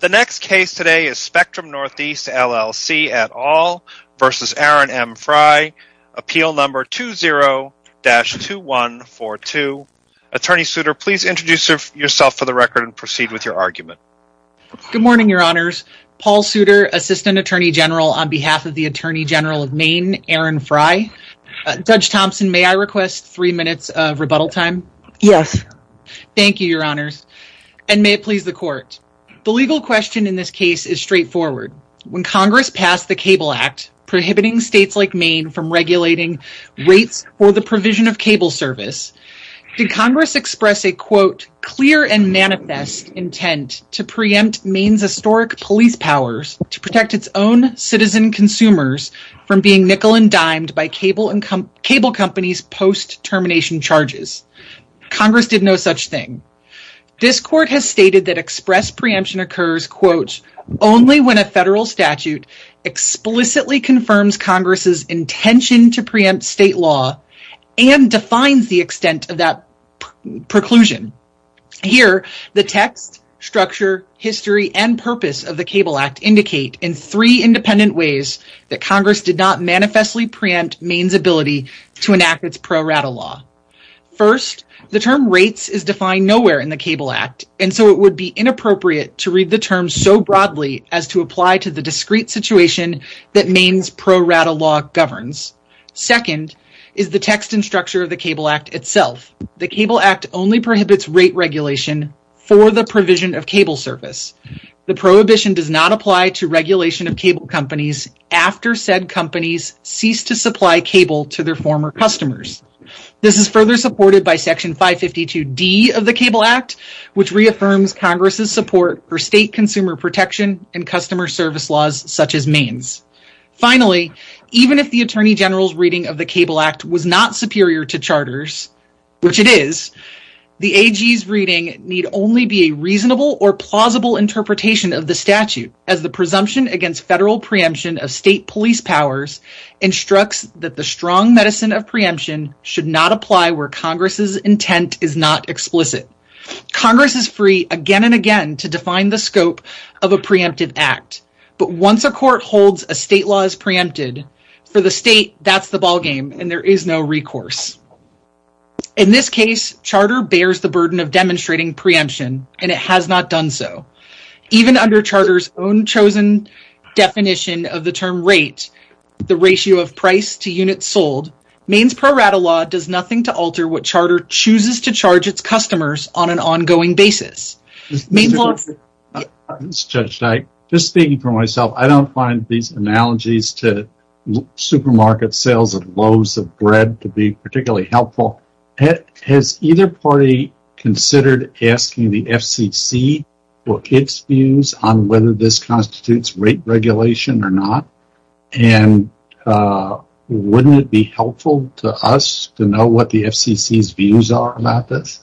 The next case today is Spectrum Northeast, LLC et al. versus Aaron M. Frey, appeal number 20-2142. Attorney Souter, please introduce yourself for the record and proceed with your argument. Good morning, Your Honors. Paul Souter, Assistant Attorney General on behalf of the Attorney General of Maine, Aaron Frey. Judge Thompson, may I request three minutes of rebuttal time? Yes. Thank you, Your Honors. And may it please the Court. The legal question in this case is straightforward. When Congress passed the Cable Act, prohibiting states like Maine from regulating rates for the provision of cable service, did Congress express a, quote, clear and manifest intent to preempt Maine's historic police powers to protect its own citizen consumers from being nickel-and-dimed by cable companies post-termination charges? Congress did no such thing. This Court has stated that express preemption occurs, quote, only when a federal statute explicitly confirms Congress's intention to preempt state law and defines the extent of that preclusion. Here, the text, structure, history, and purpose of the Cable Act indicate in three independent ways that Congress did not manifestly preempt Maine's ability to enact its pro rata law. First, the term rates is defined nowhere in the Cable Act, and so it would be inappropriate to read the term so broadly as to apply to the discrete situation that Maine's pro rata law governs. Second, is the text and structure of the Cable Act itself. The Cable Act only prohibits rate regulation for the provision of cable service. The prohibition does not apply to regulation of cable companies after said companies cease to supply cable to their former customers. This is further supported by Section 552D of the Cable Act, which reaffirms Congress's support for state consumer protection and customer service laws such as Maine's. Finally, even if the Attorney General's reading of the Cable Act was not superior to charters, which it is, the AG's reading need only be a reasonable or plausible interpretation of the statute as the presumption against federal preemption of state police powers instructs that the strong medicine of preemption should not apply where Congress's intent is not explicit. Congress is free again and again to define the scope of a preemptive act, but once a court holds a state law is preempted for the state, that's the ballgame and there is no recourse. In this case, charter bears the burden of demonstrating preemption, and it has not done so. Even under charter's own chosen definition of the term rate, the ratio of price to units sold, Maine's pro rata law does nothing to alter what charter chooses to charge its customers on an ongoing basis. Judge Dyke, just speaking for myself, I don't find these analogies to supermarket sales of loaves of bread to be particularly helpful. Has either party considered asking the FCC for its views on whether this constitutes rate regulation or not? And wouldn't it be helpful to us to know what the FCC's views are about this?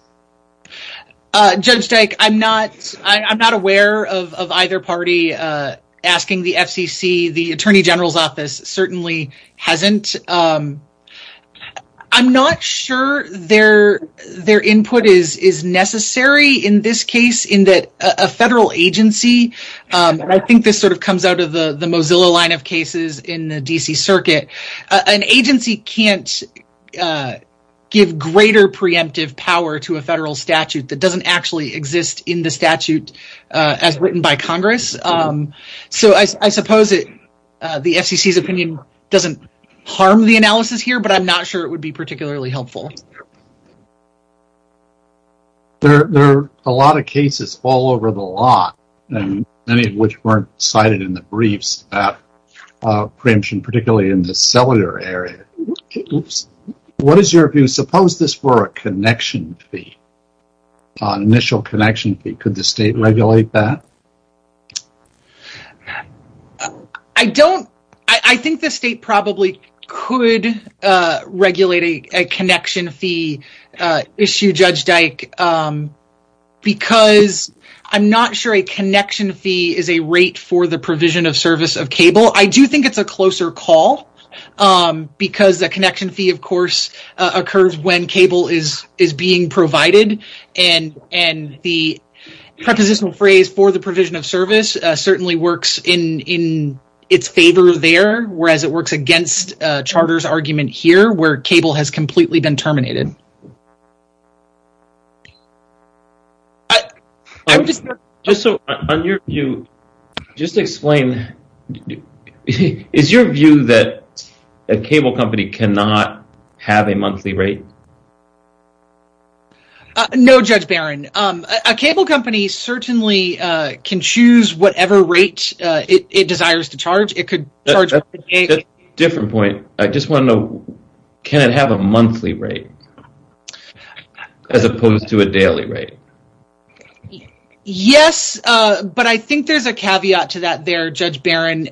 Judge Dyke, I'm not aware of either party asking the FCC. The attorney general's office certainly hasn't. I'm not sure their input is necessary in this case in that a federal agency, and I think this sort of comes out of the Mozilla line of cases in the D.C. Circuit, an agency can't give greater preemptive power to a federal statute that doesn't actually exist in the statute as written by Congress. So I suppose the FCC's opinion doesn't harm the analysis here, but I'm not sure it would be particularly helpful. There are a lot of cases all over the lot, many of which weren't cited in the briefs about preemption, particularly in the cellular area. What is your view? Suppose this were a connection fee, an initial connection fee. Could the state regulate that? I think the state probably could regulate a connection fee issue, Judge Dyke, because I'm not sure a connection fee is a rate for the provision of service of cable. I do think it's a closer call because the connection fee, of course, occurs when cable is being provided, and the prepositional phrase for the provision of service certainly works in its favor there, whereas it works against Charter's argument here where cable has completely been terminated. Just to explain, is your view that a cable company cannot have a monthly rate? No, Judge Barron. A cable company certainly can choose whatever rate it desires to charge. That's a different point. I just want to know, can it have a monthly rate as opposed to a daily rate? Yes, but I think there's a caveat to that there, Judge Barron,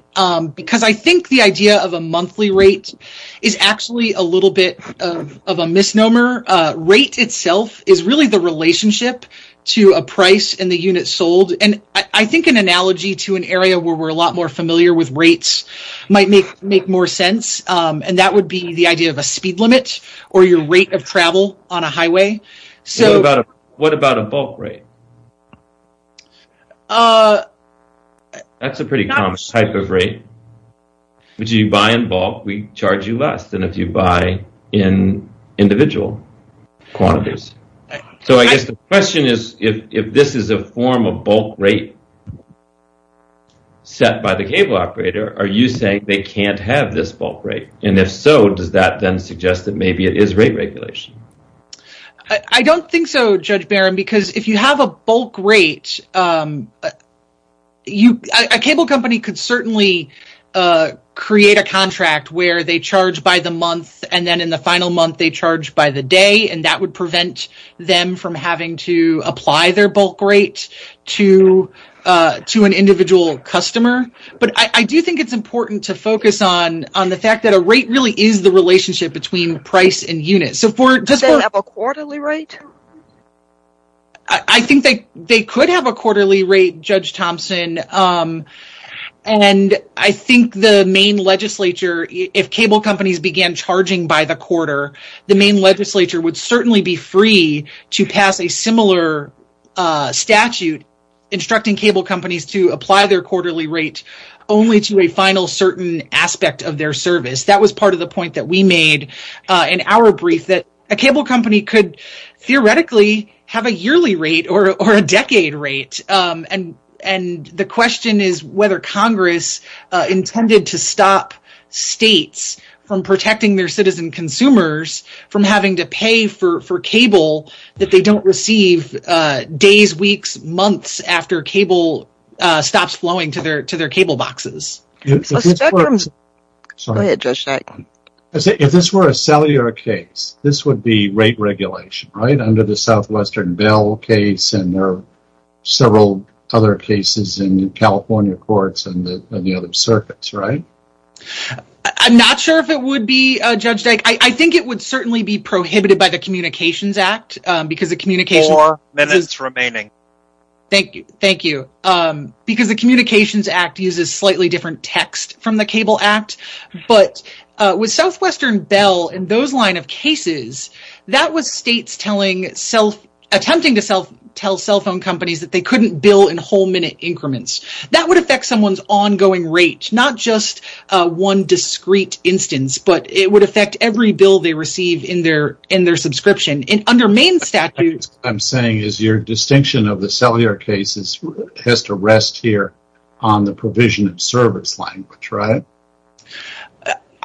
because I think the idea of a monthly rate is actually a little bit of a misnomer. Rate itself is really the relationship to a price in the unit sold, and I think an analogy to an area where we're a lot more familiar with rates might make more sense, and that would be the idea of a speed limit or your rate of travel on a highway. What about a bulk rate? That's a pretty common type of rate. If you buy in bulk, we charge you less than if you buy in individual quantities. So I guess the question is if this is a form of bulk rate set by the cable operator, are you saying they can't have this bulk rate, and if so, does that then suggest that maybe it is rate regulation? I don't think so, Judge Barron, because if you have a bulk rate, a cable company could certainly create a contract where they charge by the month, and then in the final month they charge by the day, and that would prevent them from having to apply their bulk rate to an individual customer, but I do think it's important to focus on the fact that a rate really is the relationship between price and unit. Do they have a quarterly rate? I think they could have a quarterly rate, Judge Thompson, and I think the main legislature, if cable companies began charging by the quarter, the main legislature would certainly be free to pass a similar statute instructing cable companies to apply their quarterly rate only to a final certain aspect of their service. That was part of the point that we made in our brief, that a cable company could theoretically have a yearly rate or a decade rate, and the question is whether Congress intended to stop states from protecting their citizen consumers from having to pay for cable that they don't receive days, weeks, months after cable stops flowing to their cable boxes. Go ahead, Judge Dyke. If this were a cellular case, this would be rate regulation, right, under the Southwestern Bell case, and there are several other cases in California courts and the other circuits, right? I'm not sure if it would be, Judge Dyke. I think it would certainly be prohibited by the Communications Act, because the Communications… Four minutes remaining. Thank you, thank you, because the Communications Act uses slightly different text from the Cable Act, but with Southwestern Bell and those line of cases, that was states attempting to tell cell phone companies that they couldn't bill in whole minute increments. That would affect someone's ongoing rate, not just one discrete instance, but it would affect every bill they receive in their subscription, and under Maine's statute… What I'm saying is your distinction of the cellular cases has to rest here on the provision of service language, right?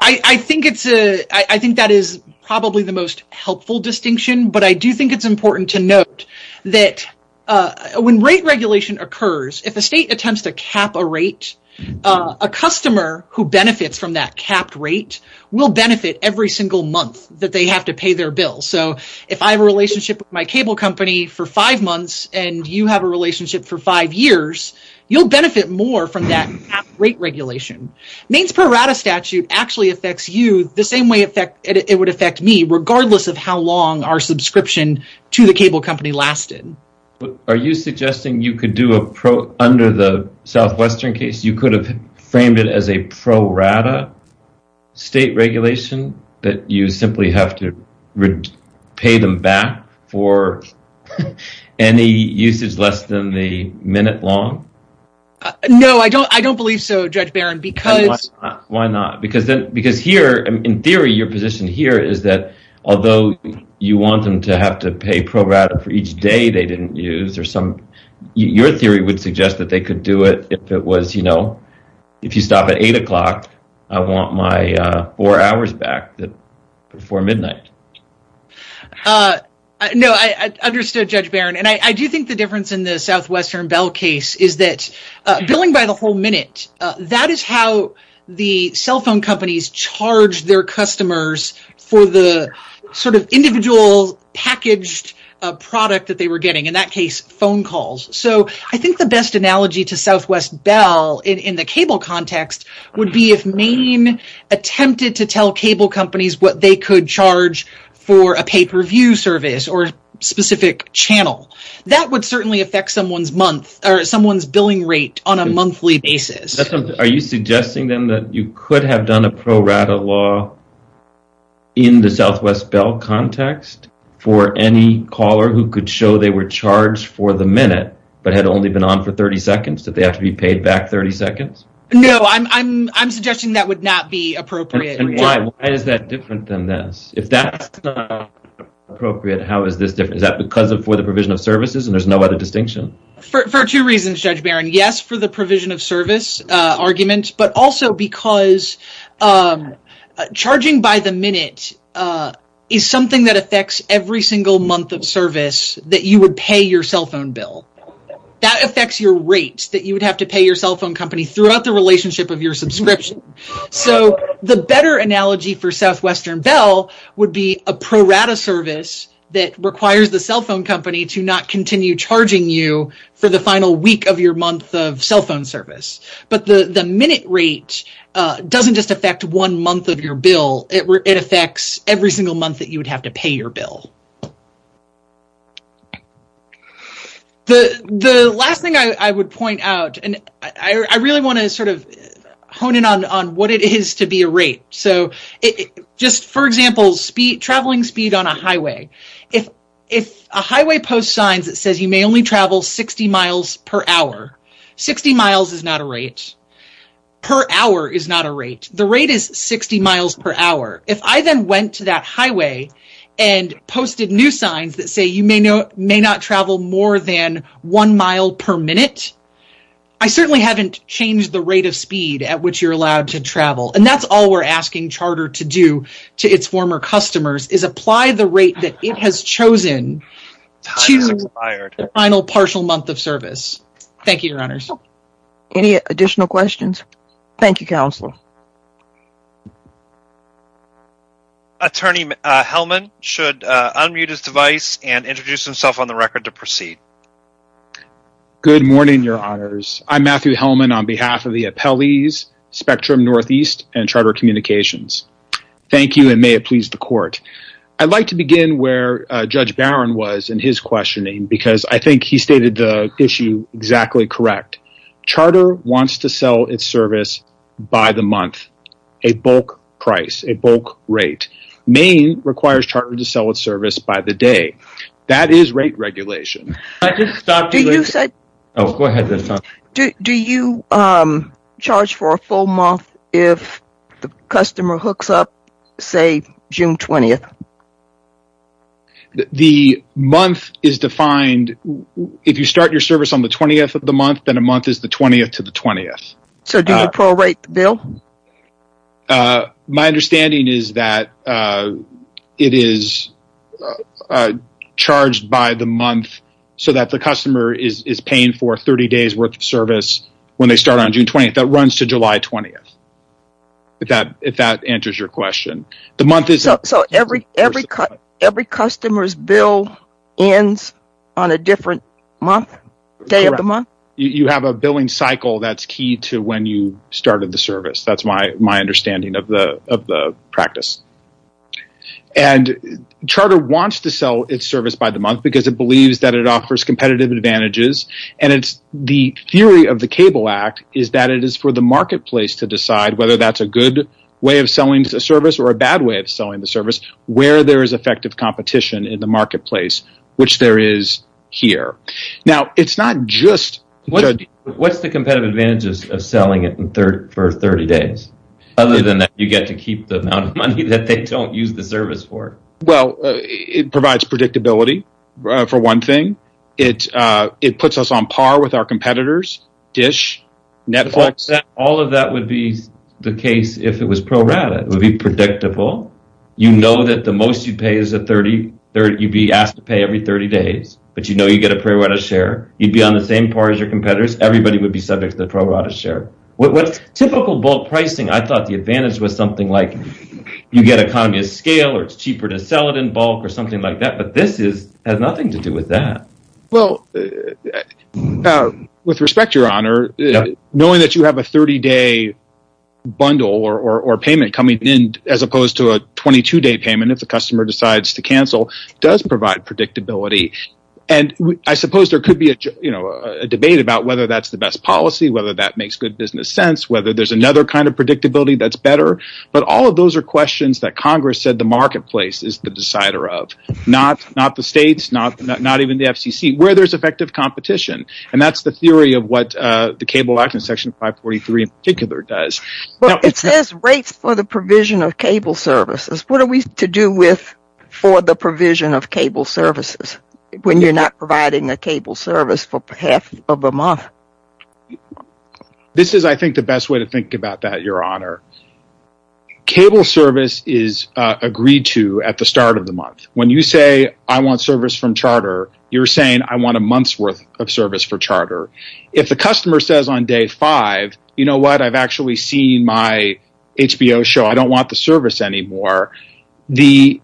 I think that is probably the most helpful distinction, but I do think it's important to note that when rate regulation occurs, if a state attempts to cap a rate, a customer who benefits from that capped rate will benefit every single month that they have to pay their bill, so if I have a relationship with my cable company for five months and you have a relationship for five years, you'll benefit more from that capped rate regulation. Maine's pro rata statute actually affects you the same way it would affect me, regardless of how long our subscription to the cable company lasted. Are you suggesting you could do a pro… under the Southwestern case, you could have framed it as a pro rata state regulation that you simply have to pay them back for any usage less than the minute long? No, I don't believe so, Judge Barron, because… Why not? Because here, in theory, your position here is that although you want them to have to pay pro rata for each day they didn't use, your theory would suggest that they could do it if it was, you know, if you stop at 8 o'clock, I want my four hours back before midnight. No, I understood Judge Barron, and I do think the difference in the Southwestern Bell case is that billing by the whole minute, that is how the cell phone companies charge their customers for the sort of individual packaged product that they were getting, in that case, phone calls, so I think the best analogy to Southwest Bell in the cable context would be if Maine attempted to tell cable companies what they could charge for a pay-per-view service or a specific channel. That would certainly affect someone's month or someone's billing rate on a monthly basis. Are you suggesting then that you could have done a pro rata law in the Southwest Bell context for any caller who could show they were charged for the minute but had only been on for 30 seconds, that they have to be paid back 30 seconds? No, I'm suggesting that would not be appropriate. And why? Why is that different than this? If that's not appropriate, how is this different? Is that because for the provision of services and there's no other distinction? For two reasons, Judge Barron. Yes, for the provision of service argument, but also because charging by the minute is something that affects every single month of service that you would pay your cell phone bill. That affects your rates that you would have to pay your cell phone company throughout the relationship of your subscription. So the better analogy for Southwestern Bell would be a pro rata service that requires the cell phone company to not continue charging you for the final week of your month of cell phone service. But the minute rate doesn't just affect one month of your bill. It affects every single month that you would have to pay your bill. The last thing I would point out, and I really want to sort of hone in on what it is to be a rate. So just for example, traveling speed on a highway. If a highway post signs that says you may only travel 60 miles per hour, 60 miles is not a rate. Per hour is not a rate. The rate is 60 miles per hour. If I then went to that highway and posted new signs that say you may not travel more than one mile per minute, I certainly haven't changed the rate of speed at which you're allowed to travel. And that's all we're asking Charter to do to its former customers is apply the rate that it has chosen to the final partial month of service. Thank you, Your Honors. Any additional questions? Thank you, Counselor. Attorney Hellman should unmute his device and introduce himself on the record to proceed. Good morning, Your Honors. I'm Matthew Hellman on behalf of the appellees, Spectrum Northeast and Charter Communications. Thank you and may it please the court. I'd like to begin where Judge Barron was in his questioning because I think he stated the issue exactly correct. Charter wants to sell its service by the month, a bulk price, a bulk rate. Maine requires Charter to sell its service by the day. That is rate regulation. Do you charge for a full month if the customer hooks up, say, June 20th? The month is defined, if you start your service on the 20th of the month, then a month is the 20th to the 20th. So do you pro-rate the bill? My understanding is that it is charged by the month so that the customer is paying for 30 days worth of service when they start on June 20th. That runs to July 20th, if that answers your question. So every customer's bill ends on a different month, day of the month? You have a billing cycle that's key to when you started the service. That's my understanding of the practice. Charter wants to sell its service by the month because it believes that it offers competitive advantages. The theory of the Cable Act is that it is for the marketplace to decide whether that's a good way of selling the service or a bad way of selling the service, where there is effective competition in the marketplace, which there is here. What are the competitive advantages of selling it for 30 days? Other than that, you get to keep the amount of money that they don't use the service for. It provides predictability, for one thing. It puts us on par with our competitors, DISH, Netflix. All of that would be the case if it was pro-rated. It would be predictable. You know that the most you'd be asked to pay every 30 days, but you know you get a pro-rated share. You'd be on the same par as your competitors. Everybody would be subject to the pro-rated share. With typical bulk pricing, I thought the advantage was something like you get an economy of scale or it's cheaper to sell it in bulk or something like that, but this has nothing to do with that. With respect, Your Honor, knowing that you have a 30-day bundle or payment coming in, as opposed to a 22-day payment if the customer decides to cancel, does provide predictability. I suppose there could be a debate about whether that's the best policy, whether that makes good business sense, whether there's another kind of predictability that's better, but all of those are questions that Congress said the marketplace is the decider of, not the states, not even the FCC, where there's effective competition, and that's the theory of what the Cable Act and Section 543 in particular does. It says rates for the provision of cable services. What are we to do with for the provision of cable services when you're not providing a cable service for half of a month? This is, I think, the best way to think about that, Your Honor. Cable service is agreed to at the start of the month. When you say, I want service from charter, you're saying, I want a month's worth of service for charter. If the customer says on day five, you know what? I've actually seen my HBO show. I don't want the service anymore. With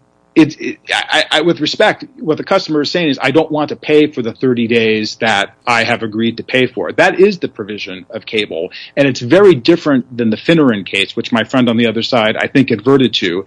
respect, what the customer is saying is, I don't want to pay for the 30 days that I have agreed to pay for. That is the provision of cable, and it's very different than the Finneran case, which my friend on the other side, I think, adverted to.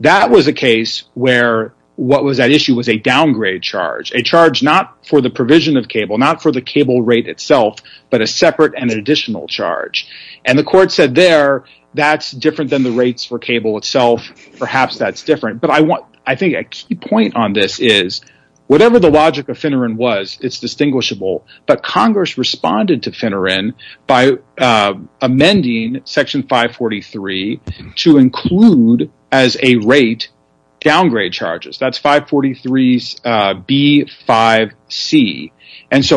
That was a case where what was at issue was a downgrade charge, a charge not for the provision of cable, not for the cable rate itself, but a separate and additional charge. The court said there that's different than the rates for cable itself. Perhaps that's different, but I think a key point on this is, whatever the logic of Finneran was, it's distinguishable, but Congress responded to Finneran by amending Section 543 to include as a rate downgrade charges. That's 543B5C.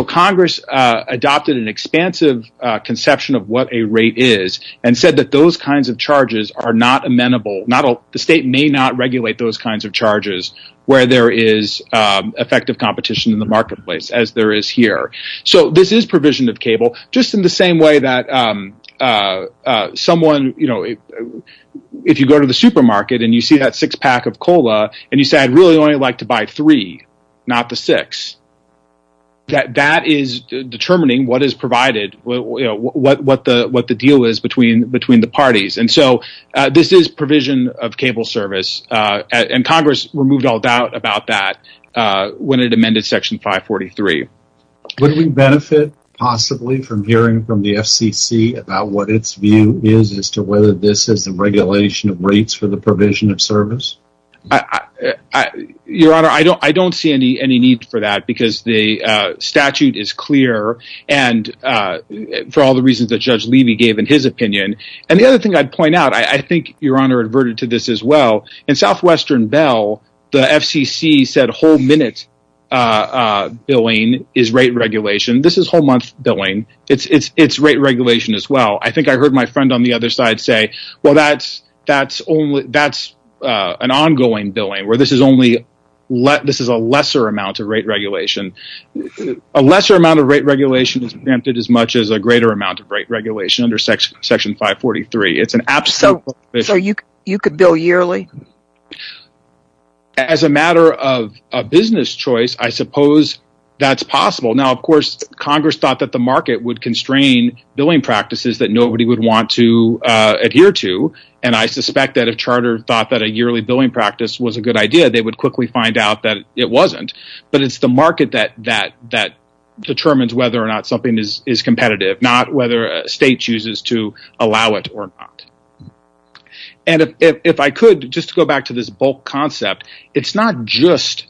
Congress adopted an expansive conception of what a rate is and said that those kinds of charges are not amenable. The state may not regulate those kinds of charges where there is effective competition in the marketplace, as there is here. This is provision of cable, just in the same way that if you go to the supermarket and you see that six pack of cola, and you say, I'd really only like to buy three, not the six. That is determining what is provided, what the deal is between the parties. This is provision of cable service, and Congress removed all doubt about that when it amended Section 543. Would we benefit, possibly, from hearing from the FCC about what its view is, as to whether this is a regulation of rates for the provision of service? Your Honor, I don't see any need for that because the statute is clear, and for all the reasons that Judge Levy gave in his opinion. And the other thing I'd point out, I think Your Honor adverted to this as well, in Southwestern Bell, the FCC said whole minute billing is rate regulation. This is whole month billing. It's rate regulation as well. I think I heard my friend on the other side say, well, that's an ongoing billing, where this is a lesser amount of rate regulation. A lesser amount of rate regulation is preempted as much as a greater amount of rate regulation under Section 543. So you could bill yearly? As a matter of business choice, I suppose that's possible. Now, of course, Congress thought that the market would constrain billing practices that nobody would want to adhere to, and I suspect that if Charter thought that a yearly billing practice was a good idea, they would quickly find out that it wasn't. But it's the market that determines whether or not something is competitive, not whether a state chooses to allow it or not. And if I could, just to go back to this bulk concept, it's not just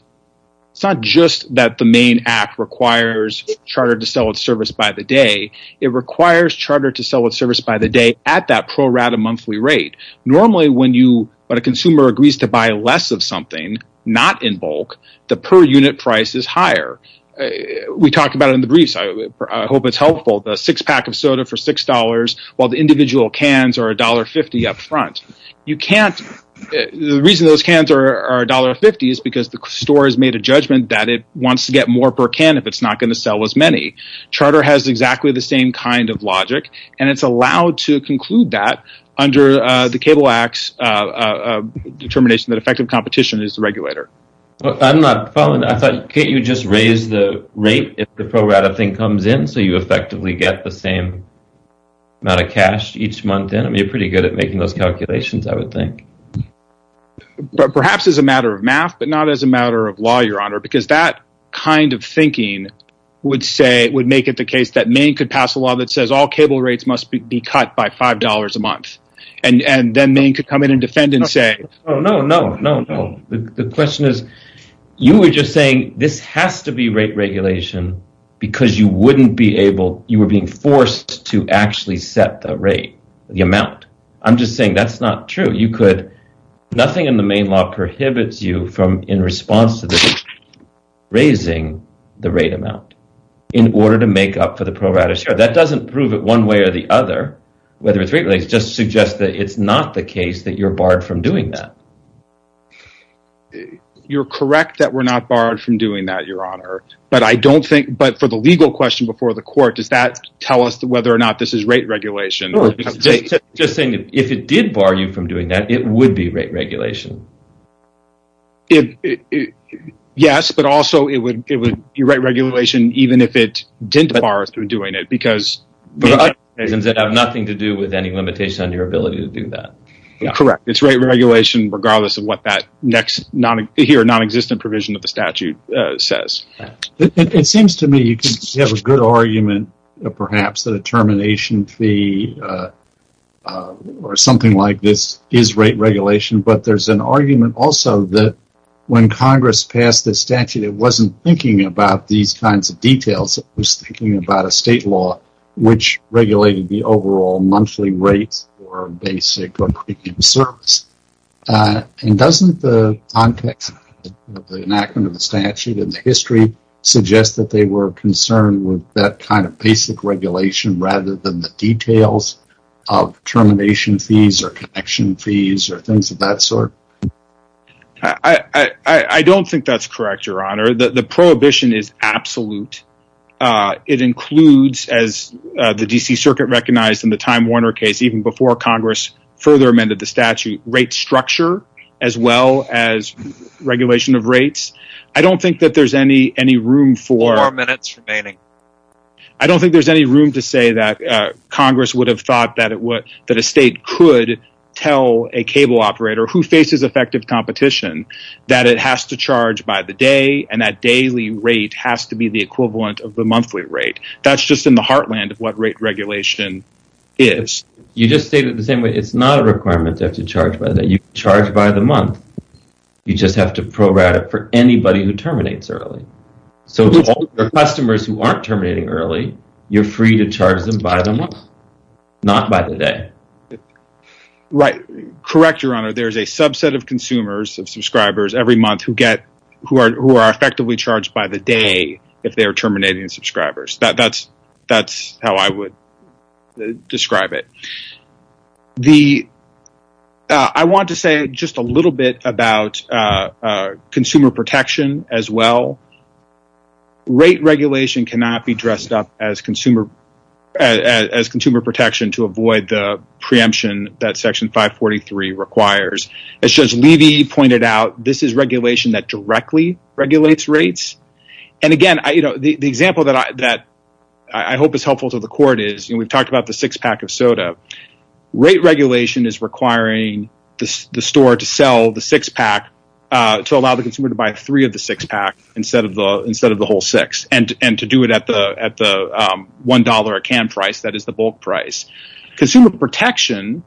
that the main act requires Charter to sell its service by the day. It requires Charter to sell its service by the day at that pro rata monthly rate. Normally, when a consumer agrees to buy less of something, not in bulk, the per unit price is higher. We talked about it in the briefs. I hope it's helpful. The six pack of soda for $6, while the individual cans are $1.50 up front. The reason those cans are $1.50 is because the store has made a judgment that it wants to get more per can if it's not going to sell as many. Charter has exactly the same kind of logic, and it's allowed to conclude that under the Cable Act's determination that effective competition is the regulator. Can't you just raise the rate if the pro rata thing comes in so you effectively get the same amount of cash each month in? You're pretty good at making those calculations, I would think. Perhaps as a matter of math, but not as a matter of law, Your Honor, because that kind of thinking would make it the case that Maine could pass a law that says all cable rates must be cut by $5 a month, and then Maine could come in and defend and say, No, no, no. The question is, you were just saying this has to be rate regulation because you were being forced to actually set the rate, the amount. I'm just saying that's not true. Nothing in the Maine law prohibits you from, in response to this, raising the rate amount in order to make up for the pro rata share. That doesn't prove it one way or the other, whether it's rate regulation. It just suggests that it's not the case that you're barred from doing that. You're correct that we're not barred from doing that, Your Honor, but for the legal question before the court, does that tell us whether or not this is rate regulation? I'm just saying that if it did bar you from doing that, it would be rate regulation. Yes, but also it would be rate regulation even if it didn't bar us from doing it because… It would have nothing to do with any limitation on your ability to do that. Correct. It's rate regulation regardless of what that next here non-existent provision of the statute says. It seems to me you could have a good argument perhaps that a termination fee or something like this is rate regulation, but there's an argument also that when Congress passed the statute, it wasn't thinking about these kinds of details. It was thinking about a state law which regulated the overall monthly rates for basic or premium service. Doesn't the context of the enactment of the statute and the history suggest that they were concerned with that kind of basic regulation rather than the details of termination fees or connection fees or things of that sort? I don't think that's correct, Your Honor. The prohibition is absolute. It includes, as the D.C. Circuit recognized in the Time Warner case even before Congress further amended the statute, rate structure as well as regulation of rates. I don't think that there's any room for… Four minutes remaining. and that daily rate has to be the equivalent of the monthly rate. That's just in the heartland of what rate regulation is. You just stated it the same way. It's not a requirement to have to charge by the day. You can charge by the month. You just have to provide it for anybody who terminates early. So for customers who aren't terminating early, you're free to charge them by the month, not by the day. Correct, Your Honor. There's a subset of consumers, of subscribers, every month who are effectively charged by the day if they are terminating subscribers. That's how I would describe it. I want to say just a little bit about consumer protection as well. Rate regulation cannot be dressed up as consumer protection to avoid the preemption that Section 543 requires. As Judge Levy pointed out, this is regulation that directly regulates rates. Again, the example that I hope is helpful to the court is we've talked about the six-pack of soda. Rate regulation is requiring the store to sell the six-pack to allow the consumer to buy three of the six-pack instead of the whole six and to do it at the $1 a can price, that is the bulk price. Consumer protection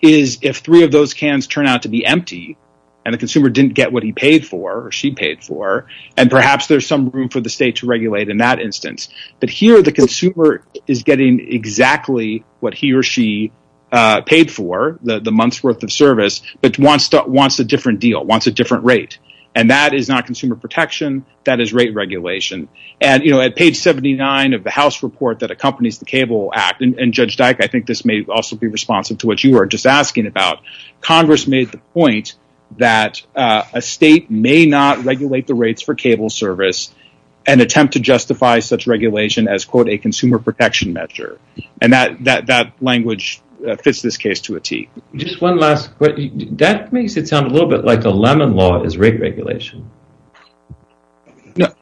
is if three of those cans turn out to be empty and the consumer didn't get what he paid for or she paid for and perhaps there's some room for the state to regulate in that instance. Here, the consumer is getting exactly what he or she paid for, the month's worth of service, but wants a different deal, wants a different rate. That is not consumer protection. That is rate regulation. At page 79 of the House report that accompanies the Cable Act, and Judge Dike, I think this may also be responsive to what you were just asking about, Congress made the point that a state may not regulate the rates for cable service and attempt to justify such regulation as a consumer protection measure. That language fits this case to a T. That makes it sound a little bit like the Lemon Law is rate regulation. The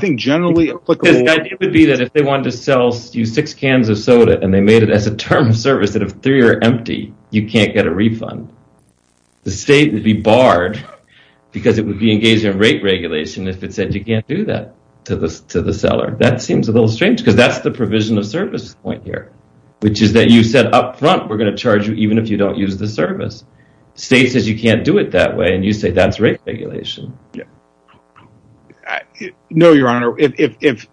idea would be that if they wanted to sell you six cans of soda and they made it as a term of service that if three are empty, you can't get a refund. The state would be barred because it would be engaged in rate regulation if it said you can't do that to the seller. That seems a little strange because that's the provision of service point here, which is that you said up front we're going to charge you even if you don't use the service. The state says you can't do it that way, and you say that's rate regulation. No, Your Honor. If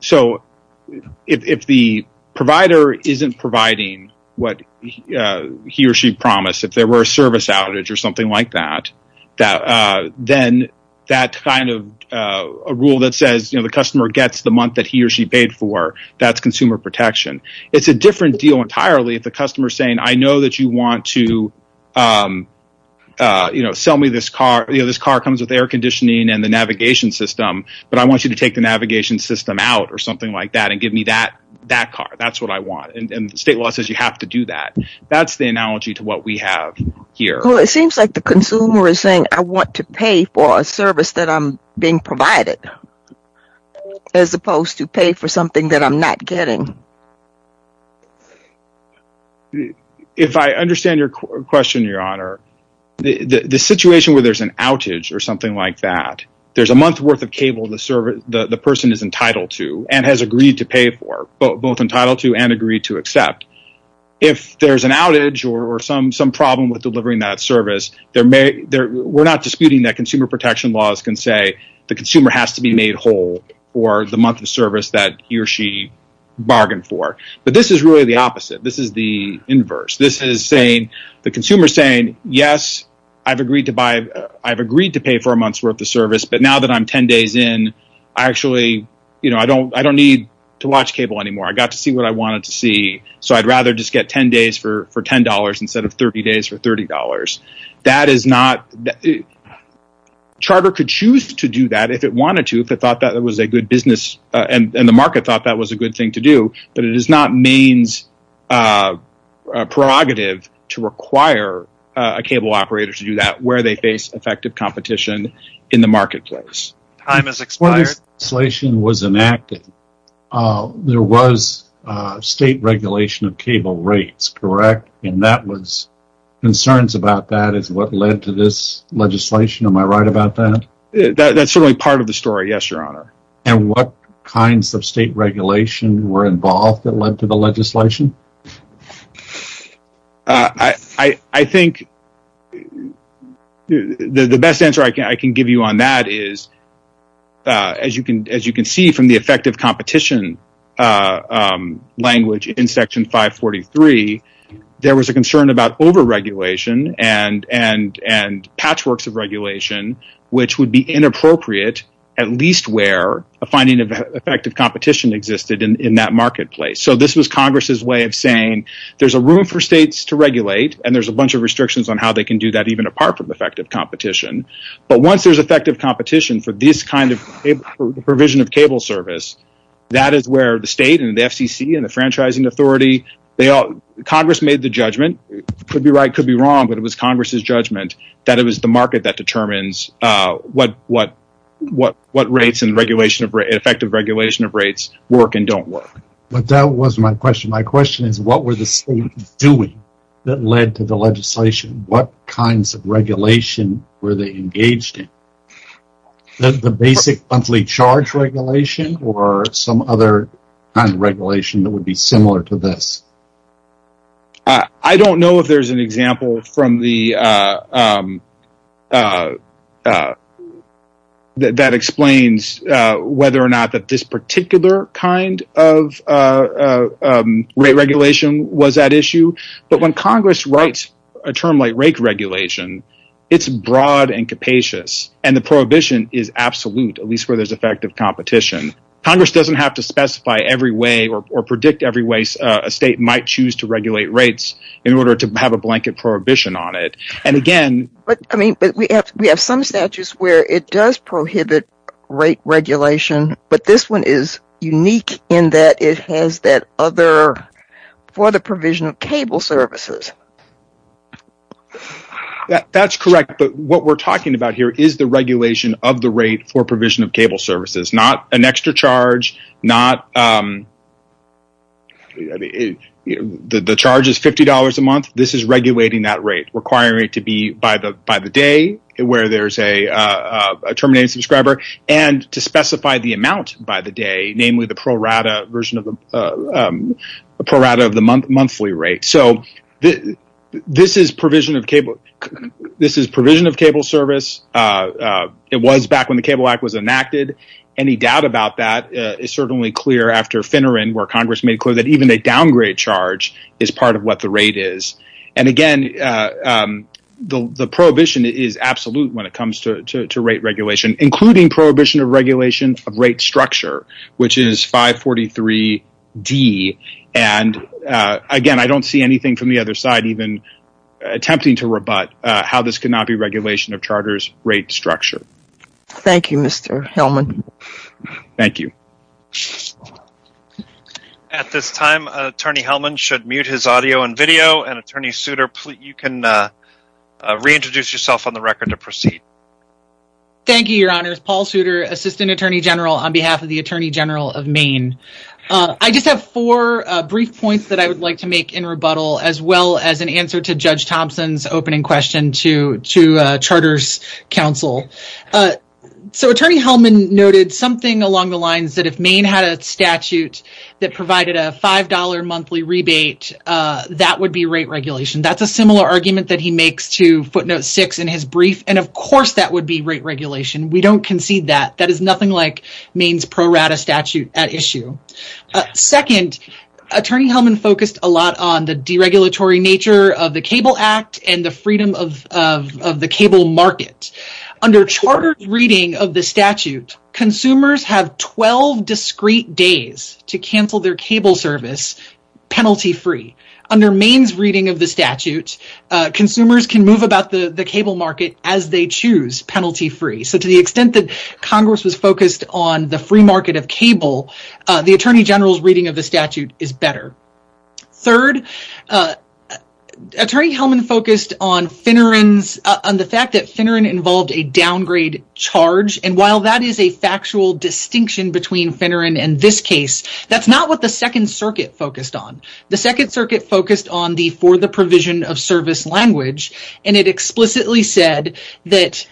the provider isn't providing what he or she promised, if there were a service outage or something like that, then that kind of rule that says the customer gets the month that he or she paid for, that's consumer protection. It's a different deal entirely if the customer is saying I know that you want to sell me this car. This car comes with air conditioning and the navigation system, but I want you to take the navigation system out or something like that and give me that car. That's what I want. State law says you have to do that. That's the analogy to what we have here. It seems like the consumer is saying I want to pay for a service that I'm being provided as opposed to pay for something that I'm not getting. If I understand your question, Your Honor, the situation where there's an outage or something like that, there's a month worth of cable the person is entitled to and has agreed to pay for, both entitled to and agreed to accept. If there's an outage or some problem with delivering that service, we're not disputing that consumer protection laws can say the consumer has to be made whole for the month of service that he or she bargained for, but this is really the opposite. This is the inverse. The consumer is saying yes, I've agreed to pay for a month's worth of service, but now that I'm 10 days in, I don't need to watch cable anymore. I got to see what I wanted to see, so I'd rather just get 10 days for $10 instead of 30 days for $30. Charter could choose to do that if it wanted to, if it thought that was a good business and the market thought that was a good thing to do, but it is not Maine's prerogative to require a cable operator to do that where they face effective competition in the marketplace. When this legislation was enacted, there was state regulation of cable rates, correct? Concerns about that is what led to this legislation, am I right about that? That's certainly part of the story, yes, Your Honor. What kinds of state regulation were involved that led to the legislation? I think the best answer I can give you on that is, as you can see from the effective competition language in Section 543, there was a concern about overregulation and patchworks of regulation, which would be inappropriate at least where a finding of effective competition existed in that marketplace. So this was Congress's way of saying, there's a room for states to regulate and there's a bunch of restrictions on how they can do that even apart from effective competition, but once there's effective competition for this kind of provision of cable service, that is where the state and the FCC and the franchising authority, Congress made the judgment, could be right, could be wrong, but it was Congress's judgment that it was the market that determines what rates and effective regulation of rates work and don't work. But that wasn't my question, my question is what were the states doing that led to the legislation? What kinds of regulation were they engaged in? The basic monthly charge regulation or some other kind of regulation that would be similar to this? I don't know if there's an example that explains whether or not this particular kind of rate regulation was at issue, but when Congress writes a term like rate regulation, it's broad and capacious and the prohibition is absolute at least where there's effective competition. Congress doesn't have to specify every way or predict every way a state might choose to regulate rates in order to have a blanket prohibition on it. We have some statutes where it does prohibit rate regulation, but this one is unique in that it has that other for the provision of cable services. That's correct, but what we're talking about here is the regulation of the rate for provision of cable services, not an extra charge, the charge is $50 a month, this is regulating that rate, requiring it to be by the day where there's a terminated subscriber and to specify the amount by the day, namely the pro rata of the monthly rate. This is provision of cable service. It was back when the Cable Act was enacted. Any doubt about that is certainly clear after Finneran where Congress made clear that even a downgrade charge is part of what the rate is. Again, the prohibition is absolute when it comes to rate regulation, including prohibition of regulation of rate structure, which is 543D. Again, I don't see anything from the other side even attempting to rebut how this could not be regulation of charter's rate structure. Thank you, Mr. Hellman. Thank you. At this time, Attorney Hellman should mute his audio and video, and Attorney Souter, you can reintroduce yourself on the record to proceed. Thank you, Your Honors. Paul Souter, Assistant Attorney General on behalf of the Attorney General of Maine. I just have four brief points that I would like to make in rebuttal as well as an answer to Judge Thompson's opening question to Charter's counsel. Attorney Hellman noted something along the lines that if Maine had a statute that provided a $5 monthly rebate, that would be rate regulation. That's a similar argument that he makes to footnote six in his brief, and of course that would be rate regulation. We don't concede that. That is nothing like Maine's pro rata statute at issue. Second, Attorney Hellman focused a lot on the deregulatory nature of the Cable Act and the freedom of the cable market. Under Charter's reading of the statute, consumers have 12 discrete days to cancel their cable service penalty free. Under Maine's reading of the statute, consumers can move about the cable market as they choose, penalty free. So to the extent that Congress was focused on the free market of cable, the Attorney General's reading of the statute is better. Third, Attorney Hellman focused on the fact that Finneran involved a downgrade charge, and while that is a factual distinction between Finneran and this case, that's not what the Second Circuit focused on. The Second Circuit focused on the for the provision of service language, and it explicitly said that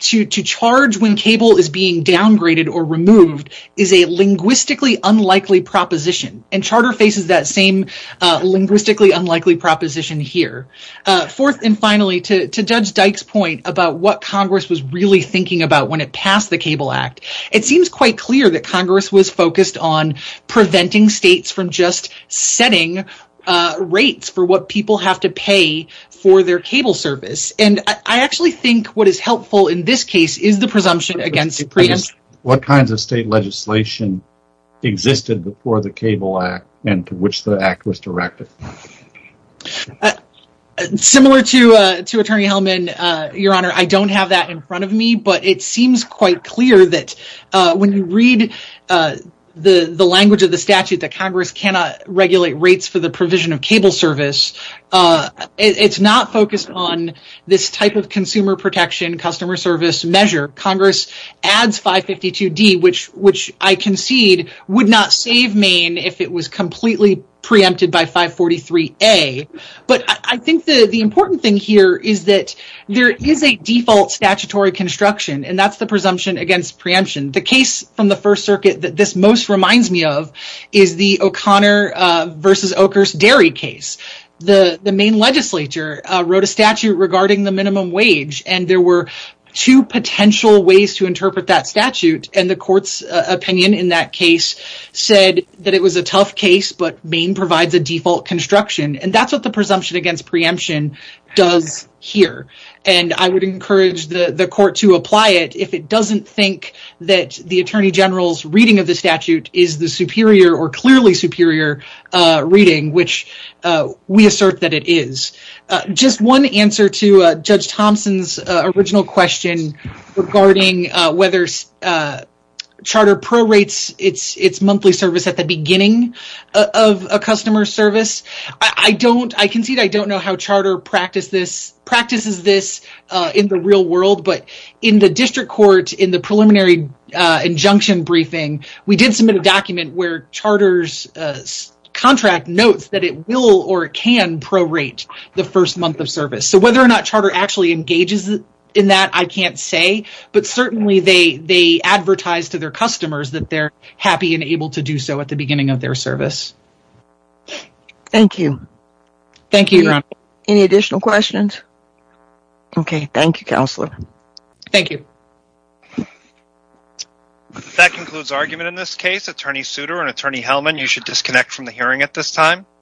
to charge when cable is being downgraded or removed is a linguistically unlikely proposition. And Charter faces that same linguistically unlikely proposition here. Fourth and finally, to Judge Dyke's point about what Congress was really thinking about when it passed the Cable Act, it seems quite clear that Congress was focused on preventing states from just setting rates for what people have to pay for their cable service. And I actually think what is helpful in this case is the presumption against freedom. What kinds of state legislation existed before the Cable Act and to which the Act was directed? Similar to Attorney Hellman, Your Honor, I don't have that in front of me, but it seems quite clear that when you read the language of the statute that Congress cannot regulate rates for the provision of cable service, it's not focused on this type of consumer protection, customer service measure. Congress adds 552D, which I concede would not save Maine if it was completely preempted by 543A. But I think the important thing here is that there is a default statutory construction, and that's the presumption against preemption. The case from the First Circuit that this most reminds me of is the O'Connor v. Oakers dairy case. The Maine legislature wrote a statute regarding the minimum wage, and there were two potential ways to interpret that statute. And the court's opinion in that case said that it was a tough case, but Maine provides a default construction. And that's what the presumption against preemption does here. And I would encourage the court to apply it if it doesn't think that the Attorney General's reading of the statute is the superior or clearly superior reading, which we assert that it is. Just one answer to Judge Thompson's original question regarding whether Charter prorates its monthly service at the beginning of a customer service. I concede I don't know how Charter practices this in the real world, but in the district court, in the preliminary injunction briefing, we did submit a document where Charter's contract notes that it will or can prorate the first month of service. So whether or not Charter actually engages in that, I can't say. But certainly they advertise to their customers that they're happy and able to do so at the beginning of their service. Thank you. Thank you, Your Honor. Any additional questions? Okay, thank you, Counselor. Thank you. That concludes argument in this case. Attorney Souter and Attorney Hellman, you should disconnect from the hearing at this time.